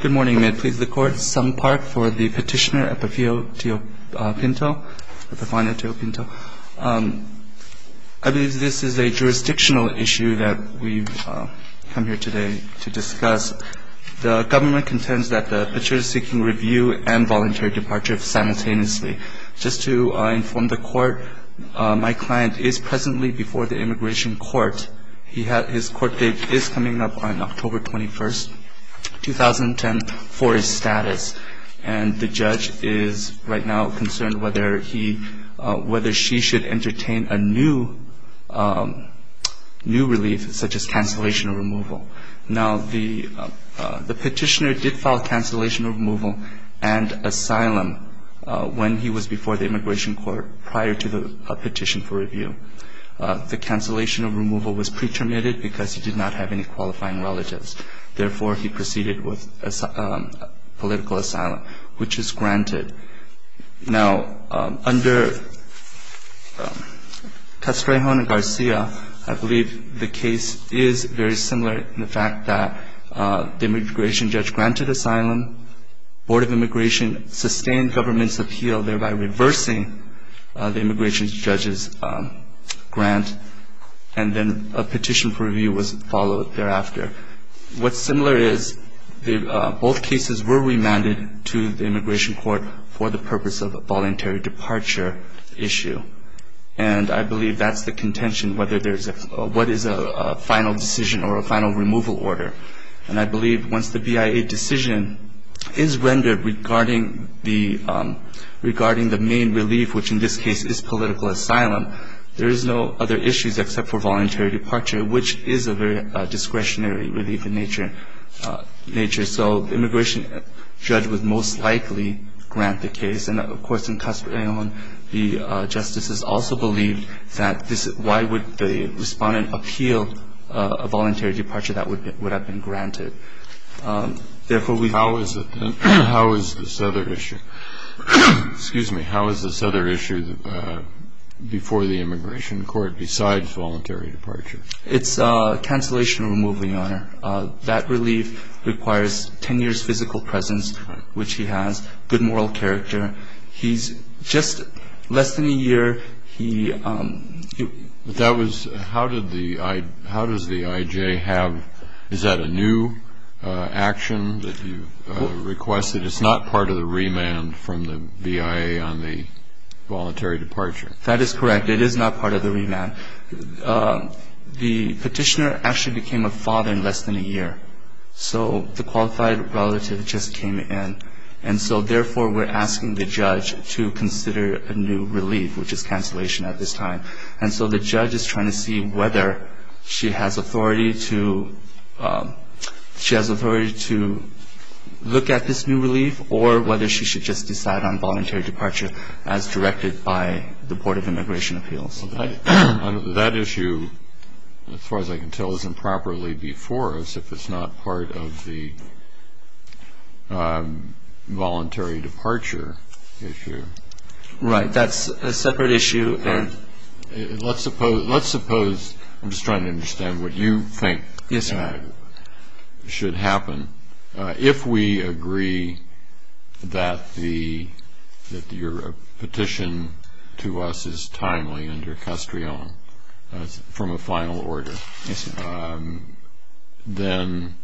Good morning. May it please the Court, Sung Park for the petitioner Epifanio Teo Pinto. I believe this is a jurisdictional issue that we've come here today to discuss. The government contends that the petitioner is seeking review and voluntary departure simultaneously. Just to inform the Court, my client is presently before the Immigration Court. His court date is coming up on October 21, 2010, for his status. And the judge is right now concerned whether she should entertain a new relief, such as cancellation of removal. Now, the petitioner did file cancellation of removal and asylum when he was before the Immigration Court prior to the petition for review. The cancellation of removal was pre-terminated because he did not have any qualifying relatives. Therefore, he proceeded with political asylum, which is granted. Now, under Castrejon and Garcia, I believe the case is very similar in the fact that the immigration judge granted asylum. Board of Immigration sustained government's appeal, thereby reversing the immigration judge's grant. And then a petition for review was followed thereafter. What's similar is both cases were remanded to the Immigration Court for the purpose of a voluntary departure issue. And I believe that's the contention, what is a final decision or a final removal order. And I believe once the BIA decision is rendered regarding the main relief, which in this case is political asylum, there is no other issues except for voluntary departure, which is a very discretionary relief in nature. So the immigration judge would most likely grant the case. And, of course, in Castrejon, the justices also believed that this why would the Respondent appeal a voluntary departure that would have been granted. Therefore, we have always been how is this other issue? Excuse me. How is this other issue before the Immigration Court besides voluntary departure? That relief requires 10 years physical presence, which he has, good moral character. He's just less than a year. But that was how did the how does the IJ have is that a new action that you requested? It's not part of the remand from the BIA on the voluntary departure. That is correct. It is not part of the remand. The petitioner actually became a father in less than a year. So the qualified relative just came in. And so, therefore, we're asking the judge to consider a new relief, which is cancellation at this time. And so the judge is trying to see whether she has authority to look at this new relief or whether she should just decide on voluntary departure as directed by the Board of Immigration Appeals. That issue, as far as I can tell, is improperly before us if it's not part of the voluntary departure issue. Right. That's a separate issue. Let's suppose I'm just trying to understand what you think should happen. If we agree that your petition to us is timely under Castrillon from a final order, then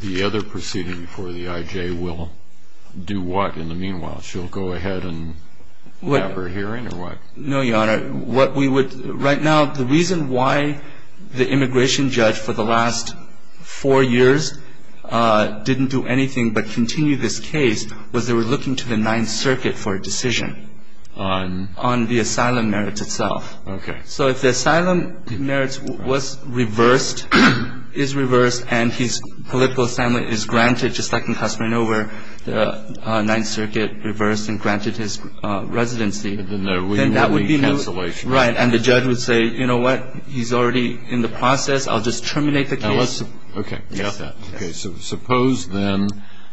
the other proceeding for the IJ will do what in the meanwhile? She'll go ahead and have her hearing or what? No, Your Honor. What we would right now, the reason why the immigration judge for the last four years didn't do anything but continue this case was they were looking to the Ninth Circuit for a decision on the asylum merits itself. Okay. So if the asylum merits was reversed, is reversed, and his political assignment is granted, just like in Castrillon where the Ninth Circuit reversed and granted his residency, then that would be new. Right. And the judge would say, you know what, he's already in the process. I'll just terminate the case. Okay. Yes. Okay. So suppose then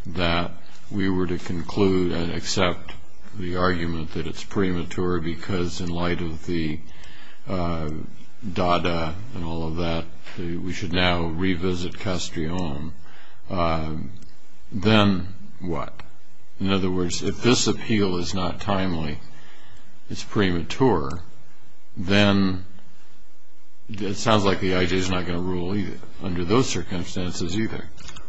that we were to conclude and accept the argument that it's premature because in light of the Dada and all of that, we should now revisit Castrillon, then what? In other words, if this appeal is not timely, it's premature, then it sounds like the IJ is not going to rule either under those circumstances either.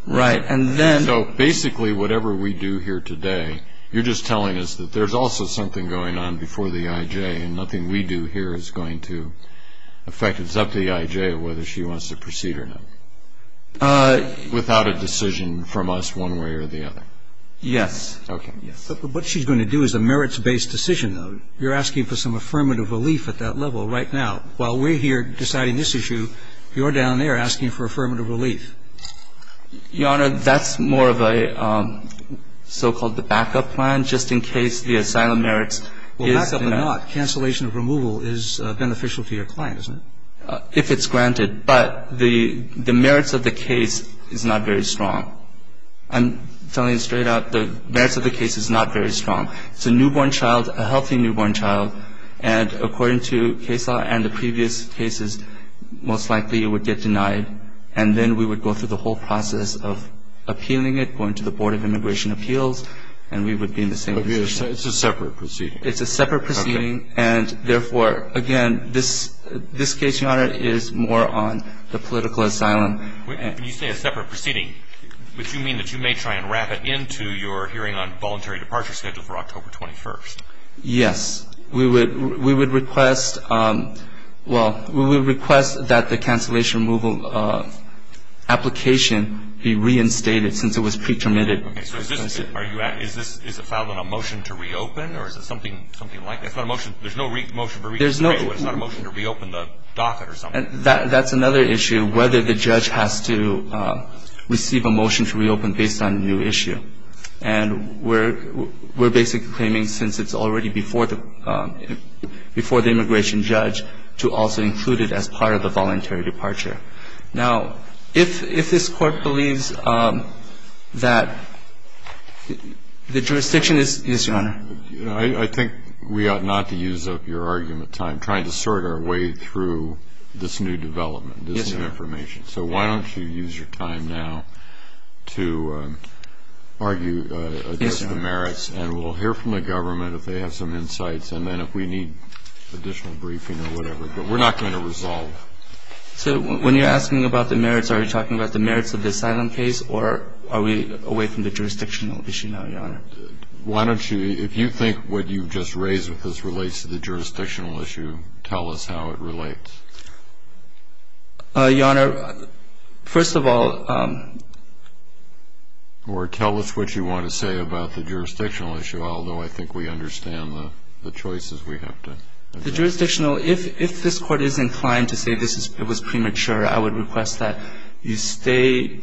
Right. And then... So basically whatever we do here today, you're just telling us that there's also something going on before the IJ and nothing we do here is going to affect it. It's up to the IJ whether she wants to proceed or not without a decision from us one way or the other. Yes. Okay. Yes. But what she's going to do is a merits-based decision, though. You're asking for some affirmative relief at that level right now. While we're here deciding this issue, you're down there asking for affirmative relief. Your Honor, that's more of a so-called the backup plan, just in case the asylum merits is... Well, backup or not, cancellation of removal is beneficial to your client, isn't it? If it's granted. But the merits of the case is not very strong. I'm telling you straight out, the merits of the case is not very strong. It's a newborn child, a healthy newborn child, and according to case law and the previous cases, most likely it would get denied, and then we would go through the whole process of appealing it, going to the Board of Immigration Appeals, and we would be in the same position. It's a separate proceeding. It's a separate proceeding, and therefore, again, this case, Your Honor, is more on the political asylum. When you say a separate proceeding, would you mean that you may try and wrap it into your hearing on voluntary departure schedule for October 21st? Yes. We would request, well, we would request that the cancellation removal application be reinstated since it was pre-terminated. Okay. So is this, are you at, is this, is it filed on a motion to reopen, or is it something, something like that? It's not a motion, there's no motion to reopen. There's no... It's not a motion to reopen the docket or something. That's another issue, whether the judge has to receive a motion to reopen based on a new issue. And we're, we're basically claiming since it's already before the, before the immigration judge to also include it as part of the voluntary departure. Now, if, if this Court believes that the jurisdiction is, yes, Your Honor? I think we ought not to use up your argument time trying to sort our way through this new development, this new information. Yes, sir. So why don't you use your time now to argue the merits, and we'll hear from the government if they have some insights, and then if we need additional briefing or whatever. But we're not going to resolve. So when you're asking about the merits, are you talking about the merits of the asylum case, or are we away from the jurisdictional issue now, Your Honor? Why don't you, if you think what you've just raised with us relates to the jurisdictional issue, tell us how it relates. Your Honor, first of all. Or tell us what you want to say about the jurisdictional issue, although I think we understand the, the choices we have to. The jurisdictional, if, if this Court is inclined to say this is, it was premature, I would request that you stay,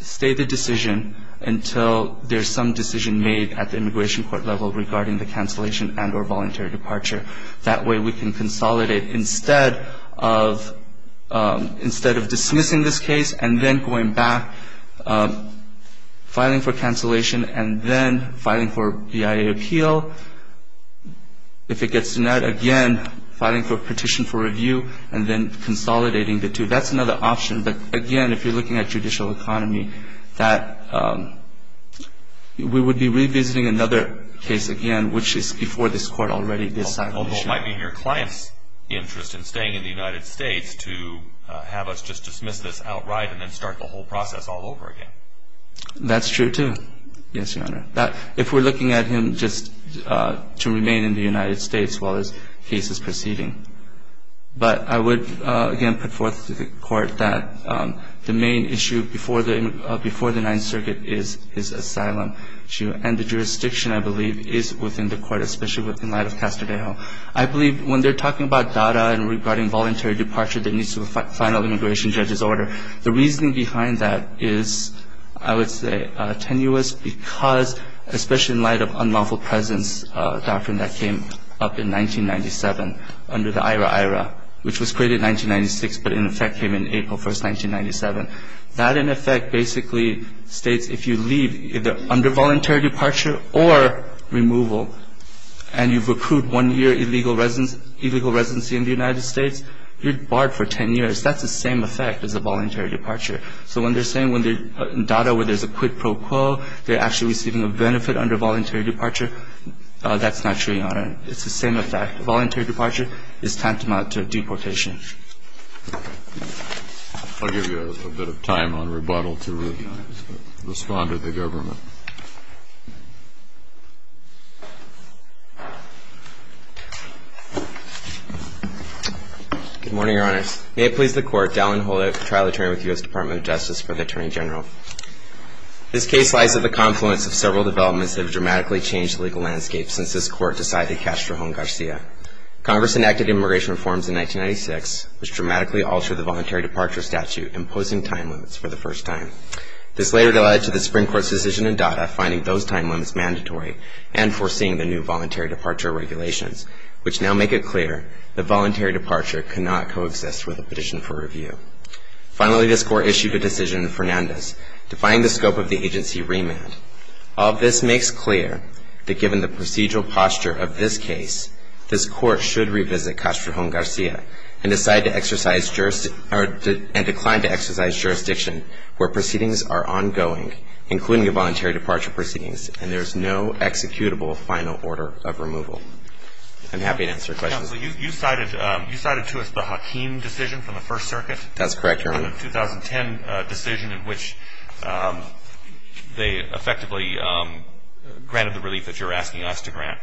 stay the decision until there's some decision made at the immigration court level regarding the cancellation and or voluntary departure. That way we can consolidate instead of, instead of dismissing this case and then going back, filing for cancellation and then filing for BIA appeal. If it gets denied, again, filing for a petition for review and then consolidating the two. That's another option. But again, if you're looking at judicial economy, that we would be revisiting another case again, which is before this Court already, the asylum issue. Although it might be in your client's interest in staying in the United States to have us just dismiss this outright and then start the whole process all over again. That's true, too. Yes, Your Honor. That, if we're looking at him just to remain in the United States while his case is proceeding. But I would, again, put forth to the Court that the main issue before the, before the Ninth Circuit is, is asylum. And the jurisdiction, I believe, is within the Court, especially within light of Castodejo. I believe when they're talking about DADA and regarding voluntary departure that needs to be final immigration judge's order, the reasoning behind that is, I would say, tenuous because, especially in light of unlawful presence doctrine that came up in 1997 under the IHRA-IHRA, which was created in 1996 but in effect came in April 1st, 1997. That, in effect, basically states if you leave under voluntary departure or removal and you've accrued one year illegal residence, illegal residency in the United States, you're barred for ten years. That's the same effect as a voluntary departure. So when they're saying when they're in DADA where there's a quid pro quo, they're actually receiving a benefit under voluntary departure, that's not true, Your Honor. It's the same effect. Voluntary departure is tantamount to deportation. I'll give you a bit of time on rebuttal to respond to the government. Good morning, Your Honors. May it please the Court, Dallin Holder, trial attorney with the U.S. Department of Justice for the Attorney General. This case lies at the confluence of several developments that have dramatically changed the legal landscape since this Court decided to catch Trajan-Garcia. Congress enacted immigration reforms in 1996. This dramatically altered the voluntary departure statute, imposing time limits for the first time. This later led to the Supreme Court's decision in DADA finding those time limits mandatory and foreseeing the new voluntary departure regulations, which now make it clear that voluntary departure cannot coexist with a petition for review. Finally, this Court issued a decision in Fernandez defining the scope of the agency remand. All this makes clear that given the procedural posture of this case, this Court should revisit catch Trajan-Garcia and decide to exercise jurisdiction or decline to exercise jurisdiction where proceedings are ongoing, including the voluntary departure proceedings, and there is no executable final order of removal. I'm happy to answer questions. Counsel, you cited to us the Hakeem decision from the First Circuit. That's correct, Your Honor. The 2010 decision in which they effectively granted the relief that you're asking us to grant.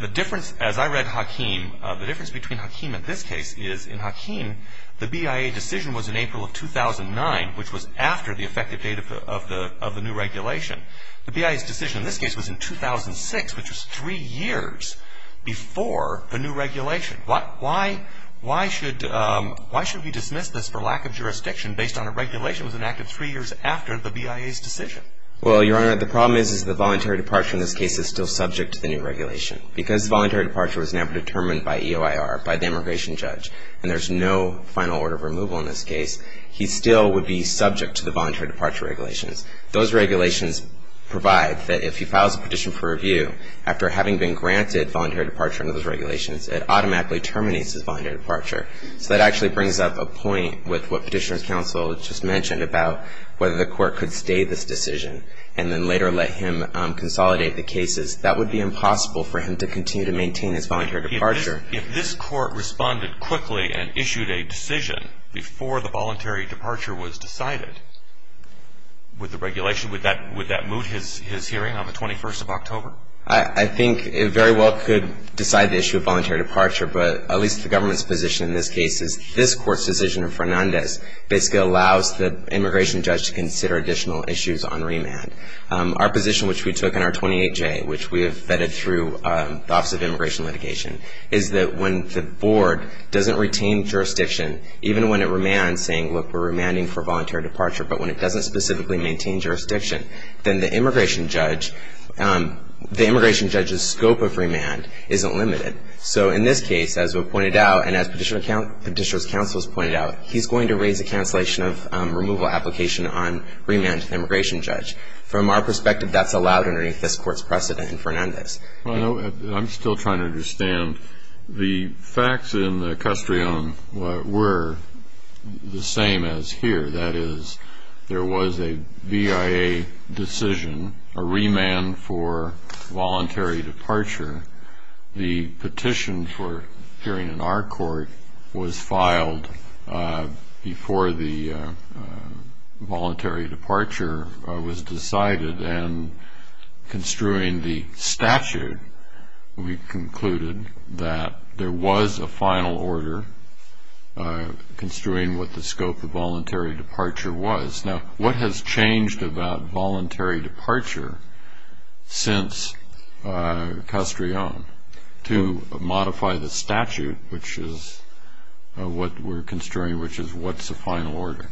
The difference, as I read Hakeem, the difference between Hakeem and this case is in Hakeem, the BIA decision was in April of 2009, which was after the effective date of the new regulation. The BIA's decision in this case was in 2006, which was three years before the new regulation. Why should we dismiss this for lack of jurisdiction based on a regulation that was enacted three years after the BIA's decision? Well, Your Honor, the problem is the voluntary departure in this case is still subject to the new regulation. Because voluntary departure was never determined by EOIR, by the immigration judge, and there's no final order of removal in this case, he still would be subject to the voluntary departure regulations. Those regulations provide that if he files a petition for review, after having been granted voluntary departure under those regulations, it automatically terminates his voluntary departure. So that actually brings up a point with what Petitioner's Counsel just mentioned about whether the court could stay this decision and then later let him consolidate the cases. That would be impossible for him to continue to maintain his voluntary departure. If this court responded quickly and issued a decision before the voluntary departure was decided with the regulation, would that move his hearing on the 21st of October? I think it very well could decide the issue of voluntary departure, but at least the government's position in this case is this court's decision in Fernandez basically allows the immigration judge to consider additional issues on remand. Our position, which we took in our 28J, which we have vetted through the Office of Immigration Litigation, is that when the board doesn't retain jurisdiction, even when it remands, saying, look, we're remanding for voluntary departure, but when it doesn't specifically maintain jurisdiction, then the immigration judge's scope of remand isn't limited. So in this case, as was pointed out, and as Petitioner's Counsel has pointed out, he's going to raise a cancellation of removal application on remand to the immigration judge. From our perspective, that's allowed underneath this court's precedent in Fernandez. I'm still trying to understand. The facts in the Castrillon were the same as here. That is, there was a VIA decision, a remand for voluntary departure. The petition for hearing in our court was filed before the voluntary departure was decided, and construing the statute, we concluded that there was a final order, construing what the scope of voluntary departure was. Now, what has changed about voluntary departure since Castrillon to modify the statute, which is what we're construing, which is what's the final order?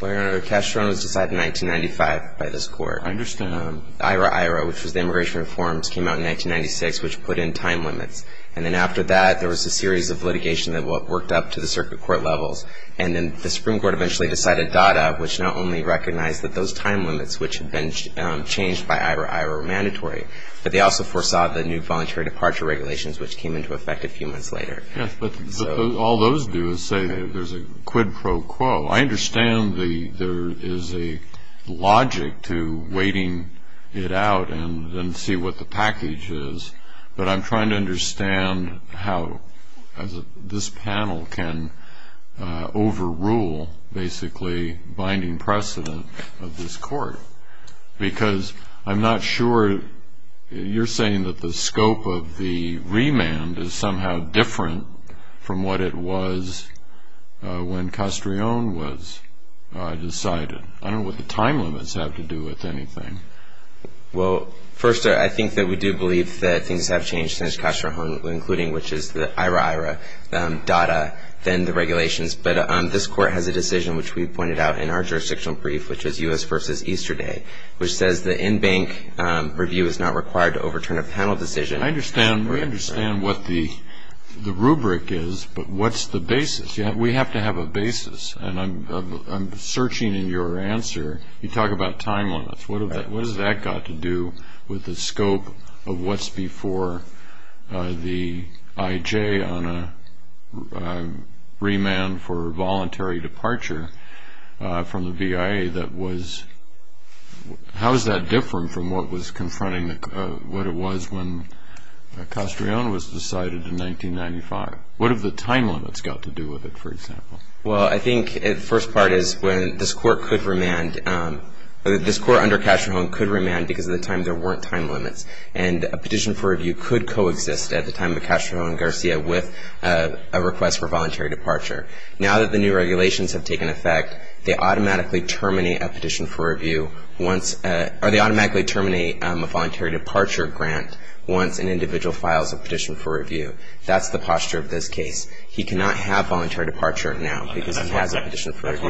Well, Your Honor, Castrillon was decided in 1995 by this court. I understand. IRA-IRA, which was the Immigration Reforms, came out in 1996, which put in time limits. And then after that, there was a series of litigation that worked up to the circuit court levels, and then the Supreme Court eventually decided DADA, which not only recognized that those time limits, which had been changed by IRA-IRA, were mandatory, but they also foresaw the new voluntary departure regulations, which came into effect a few months later. Yes, but all those do is say there's a quid pro quo. I understand there is a logic to waiting it out and then see what the package is, but I'm trying to understand how this panel can overrule, basically, binding precedent of this court, because I'm not sure you're saying that the scope of the remand is somehow different from what it was when Castrillon was decided. I don't know what the time limits have to do with anything. Well, first, I think that we do believe that things have changed since Castrillon, including which is the IRA-IRA, DADA, then the regulations. But this court has a decision, which we pointed out in our jurisdictional brief, which is U.S. v. Easterday, which says the in-bank review is not required to overturn a panel decision. I understand. We understand what the rubric is, but what's the basis? We have to have a basis, and I'm searching in your answer. You talk about time limits. What has that got to do with the scope of what's before the IJ on a remand for voluntary departure from the VIA? How is that different from what was confronting what it was when Castrillon was decided in 1995? What have the time limits got to do with it, for example? Well, I think the first part is when this court could remand. This court under Castrillon could remand because at the time there weren't time limits, and a petition for review could coexist at the time of Castrillon and Garcia with a request for voluntary departure. Now that the new regulations have taken effect, they automatically terminate a petition for review once – or they automatically terminate a voluntary departure grant once an individual files a petition for review. That's the posture of this case. He cannot have voluntary departure now because he has a petition for review.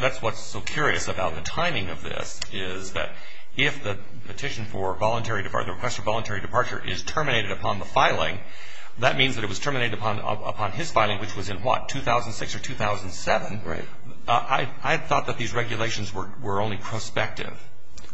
That's what's so curious about the timing of this is that if the petition for voluntary – the request for voluntary departure is terminated upon the filing, that means that it was terminated upon his filing, which was in what, 2006 or 2007? Right. I thought that these regulations were only prospective.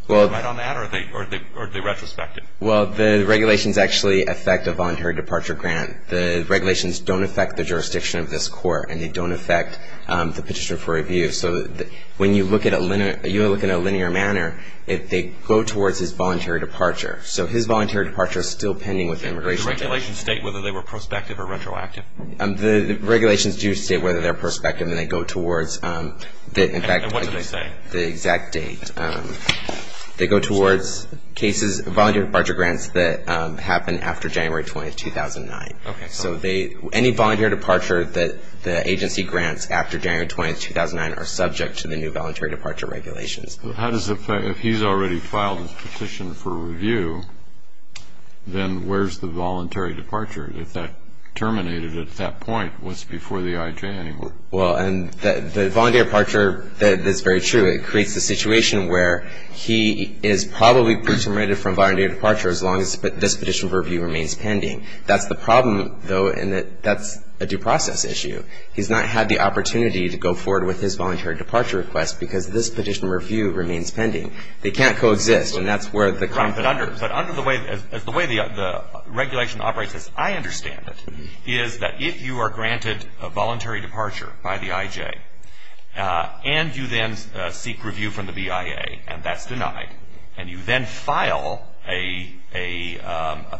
Well – Right on that, or are they retrospective? Well, the regulations actually affect a voluntary departure grant. The regulations don't affect the jurisdiction of this court, and they don't affect the petition for review. So when you look at a linear manner, they go towards his voluntary departure. So his voluntary departure is still pending with the immigration judge. Do the regulations state whether they were prospective or retroactive? The regulations do state whether they're prospective, and they go towards – And what do they say? The exact date. They go towards cases – voluntary departure grants that happen after January 20, 2009. Okay. So any voluntary departure that the agency grants after January 20, 2009 are subject to the new voluntary departure regulations. How does the – if he's already filed his petition for review, then where's the voluntary departure? If that terminated at that point, what's before the IJ anymore? Well, and the voluntary departure – that's very true. It creates the situation where he is probably terminated from voluntary departure as long as this petition for review remains pending. That's the problem, though, in that that's a due process issue. He's not had the opportunity to go forward with his voluntary departure request because this petition for review remains pending. They can't coexist, and that's where the – But under the way – the way the regulation operates, as I understand it, is that if you are granted a voluntary departure by the IJ and you then seek review from the BIA and that's denied and you then file a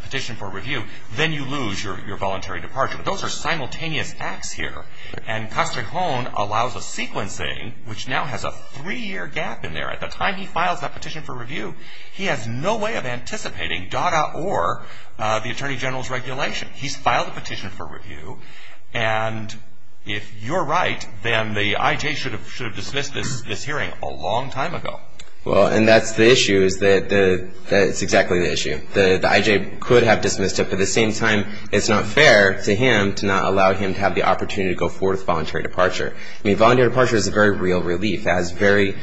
petition for review, then you lose your voluntary departure. But those are simultaneous acts here. And Castrejon allows a sequencing which now has a three-year gap in there. At the time he files that petition for review, he has no way of anticipating DADA or the Attorney General's regulation. He's filed a petition for review, and if you're right, then the IJ should have dismissed this hearing a long time ago. Well, and that's the issue is that – that's exactly the issue. The IJ could have dismissed it, but at the same time it's not fair to him to not allow him to have the opportunity to go forward with voluntary departure. I mean, voluntary departure is a very real relief. It has very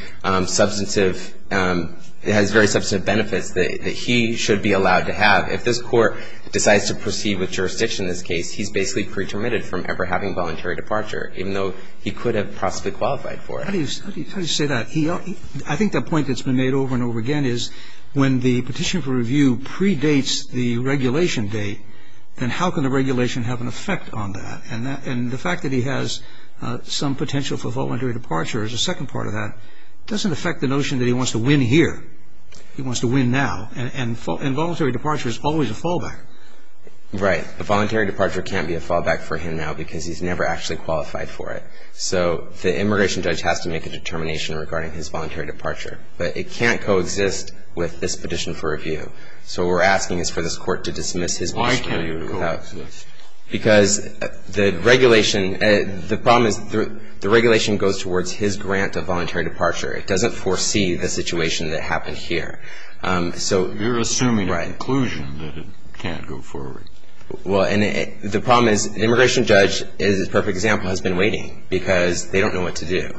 substantive – it has very substantive benefits that he should be allowed to have. If this Court decides to proceed with jurisdiction in this case, he's basically pretermitted from ever having voluntary departure, even though he could have possibly qualified for it. How do you – how do you say that? I think the point that's been made over and over again is when the petition for review predates the regulation date, then how can the regulation have an effect on that? And the fact that he has some potential for voluntary departure as a second part of that doesn't affect the notion that he wants to win here. He wants to win now. And voluntary departure is always a fallback. Right. A voluntary departure can't be a fallback for him now because he's never actually qualified for it. So the immigration judge has to make a determination regarding his voluntary departure. But it can't coexist with this petition for review. So what we're asking is for this Court to dismiss his – Why can't it coexist? Because the regulation – the problem is the regulation goes towards his grant of voluntary departure. It doesn't foresee the situation that happened here. So – You're assuming an inclusion that it can't go forward. Well, and the problem is the immigration judge is a perfect example, has been waiting, because they don't know what to do.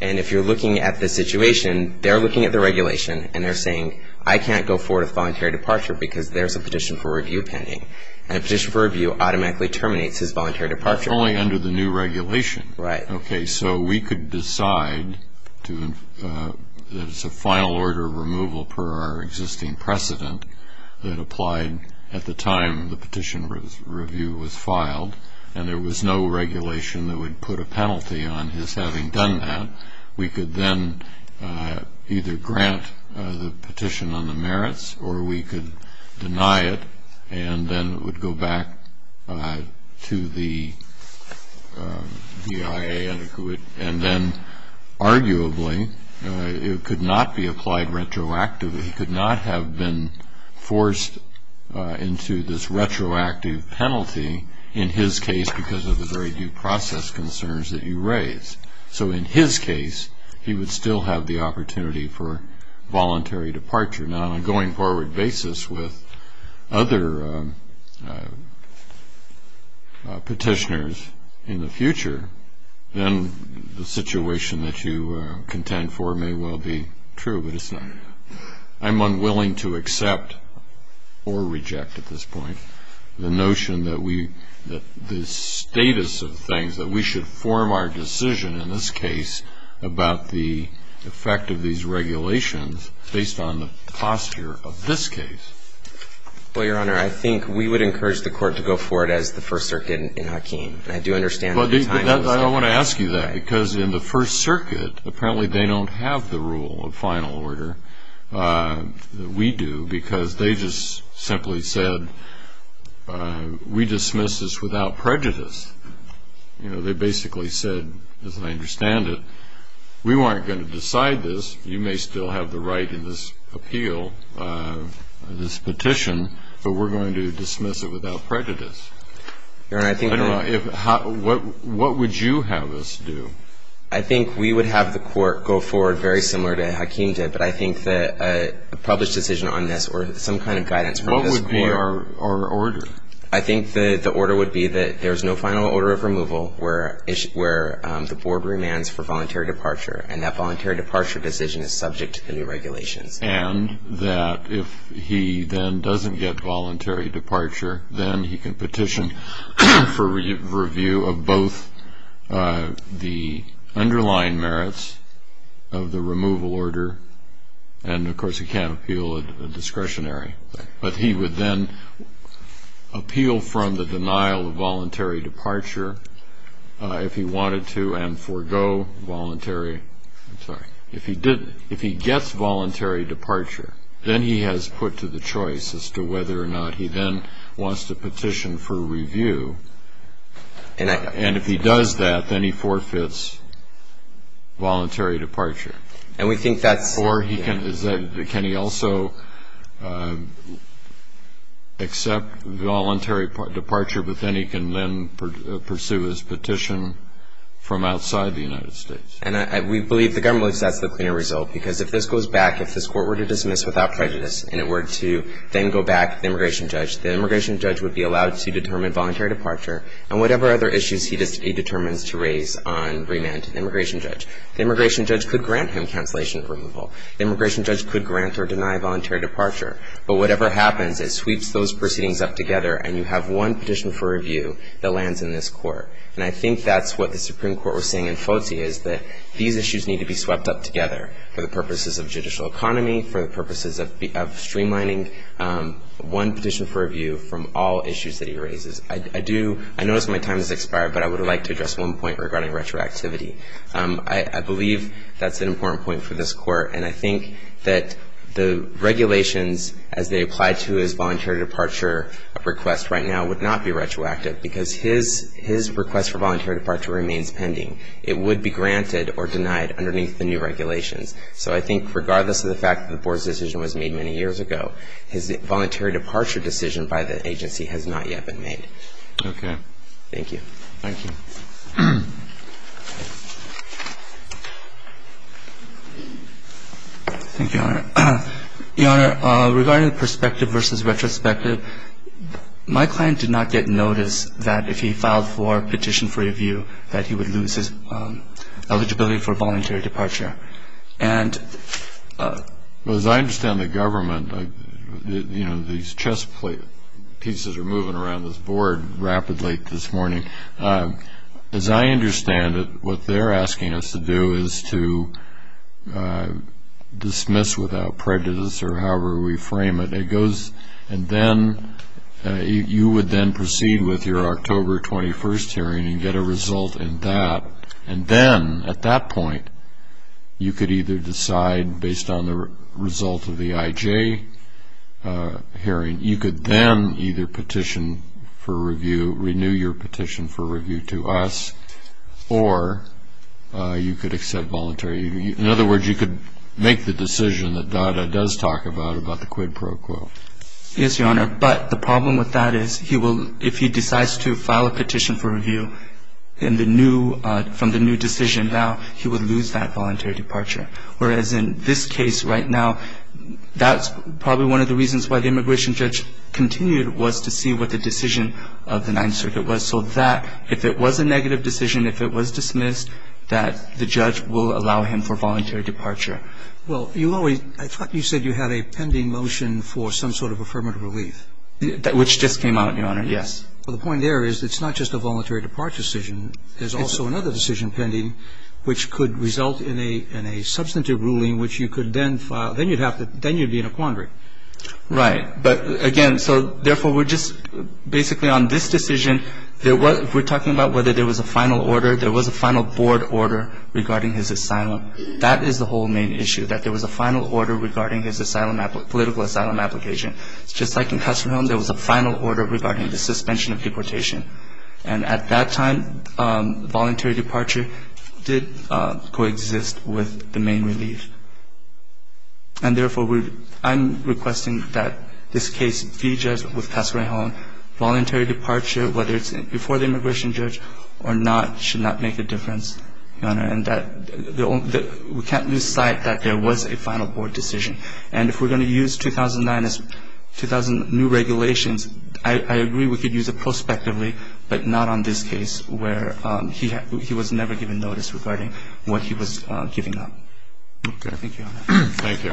And if you're looking at the situation, they're looking at the regulation, and they're saying, I can't go forward with voluntary departure because there's a petition for review pending. And a petition for review automatically terminates his voluntary departure. Only under the new regulation. Right. Okay, so we could decide to – there's a final order of removal per our existing precedent that applied at the time the petition for review was filed, and there was no regulation that would put a penalty on his having done that. We could then either grant the petition on the merits, or we could deny it, and then it would go back to the DIA. And then arguably, it could not be applied retroactively. He could not have been forced into this retroactive penalty, in his case because of the very due process concerns that he raised. So in his case, he would still have the opportunity for voluntary departure. Now, on a going forward basis with other petitioners in the future, then the situation that you contend for may well be true, but it's not. I'm unwilling to accept or reject at this point the notion that we – the status of things that we should form our decision in this case about the effect of these regulations based on the posture of this case. Well, Your Honor, I think we would encourage the Court to go forward as the First Circuit in Hakeem. I do understand what the time is. I want to ask you that because in the First Circuit, apparently they don't have the rule of final order that we do because they just simply said we dismiss this without prejudice. You know, they basically said, as I understand it, we weren't going to decide this. You may still have the right in this appeal, this petition, but we're going to dismiss it without prejudice. Your Honor, I think that – I don't know. What would you have us do? I think we would have the Court go forward very similar to Hakeem did, but I think that a published decision on this or some kind of guidance from this Court – What would be our order? I think the order would be that there's no final order of removal where the Board remands for voluntary departure, and that voluntary departure decision is subject to the new regulations. And that if he then doesn't get voluntary departure, then he can petition for review of both the underlying merits of the removal order, and, of course, he can't appeal a discretionary. But he would then appeal from the denial of voluntary departure if he wanted to, and forgo voluntary – I'm sorry. If he gets voluntary departure, then he has put to the choice as to whether or not he then wants to petition for review. And if he does that, then he forfeits voluntary departure. And we think that's – Or he can – can he also accept voluntary departure, but then he can then pursue his petition from outside the United States? And we believe the government believes that's the cleaner result, because if this goes back – if this Court were to dismiss without prejudice and it were to then go back to the immigration judge, the immigration judge would be allowed to determine voluntary departure and whatever other issues he determines to raise on remand to the immigration judge. The immigration judge could grant him cancellation of removal. The immigration judge could grant or deny voluntary departure. But whatever happens, it sweeps those proceedings up together and you have one petition for review that lands in this Court. And I think that's what the Supreme Court was saying in Fozzi is that these issues need to be swept up together for the purposes of judicial economy, for the purposes of streamlining one petition for review from all issues that he raises. I do – I notice my time has expired, but I would like to address one point regarding retroactivity. I believe that's an important point for this Court, and I think that the regulations as they apply to his voluntary departure request right now would not be retroactive, because his request for voluntary departure remains pending. It would be granted or denied underneath the new regulations. So I think regardless of the fact that the Board's decision was made many years ago, his voluntary departure decision by the agency has not yet been made. Okay. Thank you. Thank you. Thank you, Your Honor. Your Honor, regarding perspective versus retrospective, my client did not get notice that if he filed for petition for review that he would lose his eligibility for voluntary departure. And as I understand the government, you know, as I understand it, what they're asking us to do is to dismiss without prejudice or however we frame it. It goes – and then you would then proceed with your October 21st hearing and get a result in that. And then at that point, you could either decide based on the result of the IJ hearing, you could then either petition for review, renew your petition for review to us, or you could accept voluntary. In other words, you could make the decision that DADA does talk about, about the quid pro quo. Yes, Your Honor. But the problem with that is if he decides to file a petition for review from the new decision now, he would lose that voluntary departure. Whereas in this case right now, that's probably one of the reasons why the immigration judge continued was to see what the decision of the Ninth Circuit was, so that if it was a negative decision, if it was dismissed, that the judge will allow him for voluntary departure. Well, you always – I thought you said you had a pending motion for some sort of affirmative relief. Which just came out, Your Honor, yes. Well, the point there is it's not just a voluntary departure decision. There's also another decision pending which could result in a substantive ruling which you could then file. Then you'd have to – then you'd be in a quandary. Right. But, again, so therefore we're just – basically on this decision, we're talking about whether there was a final order. There was a final board order regarding his asylum. That is the whole main issue, that there was a final order regarding his political asylum application. Just like in Custer Hill, there was a final order regarding the suspension of deportation. And at that time, voluntary departure did coexist with the main relief. And, therefore, I'm requesting that this case be judged with Pasquarello. Voluntary departure, whether it's before the immigration judge or not, should not make a difference, Your Honor. And that – we can't lose sight that there was a final board decision. And if we're going to use 2009 as – 2000 new regulations, I agree we could use it prospectively, but not on this case where he was never given notice regarding what he was giving up. Okay. Thank you, Your Honor. Thank you.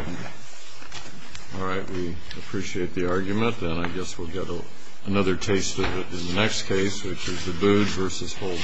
All right. We appreciate the argument. Then I guess we'll get another taste of it in the next case, which is the Bood v. Holden.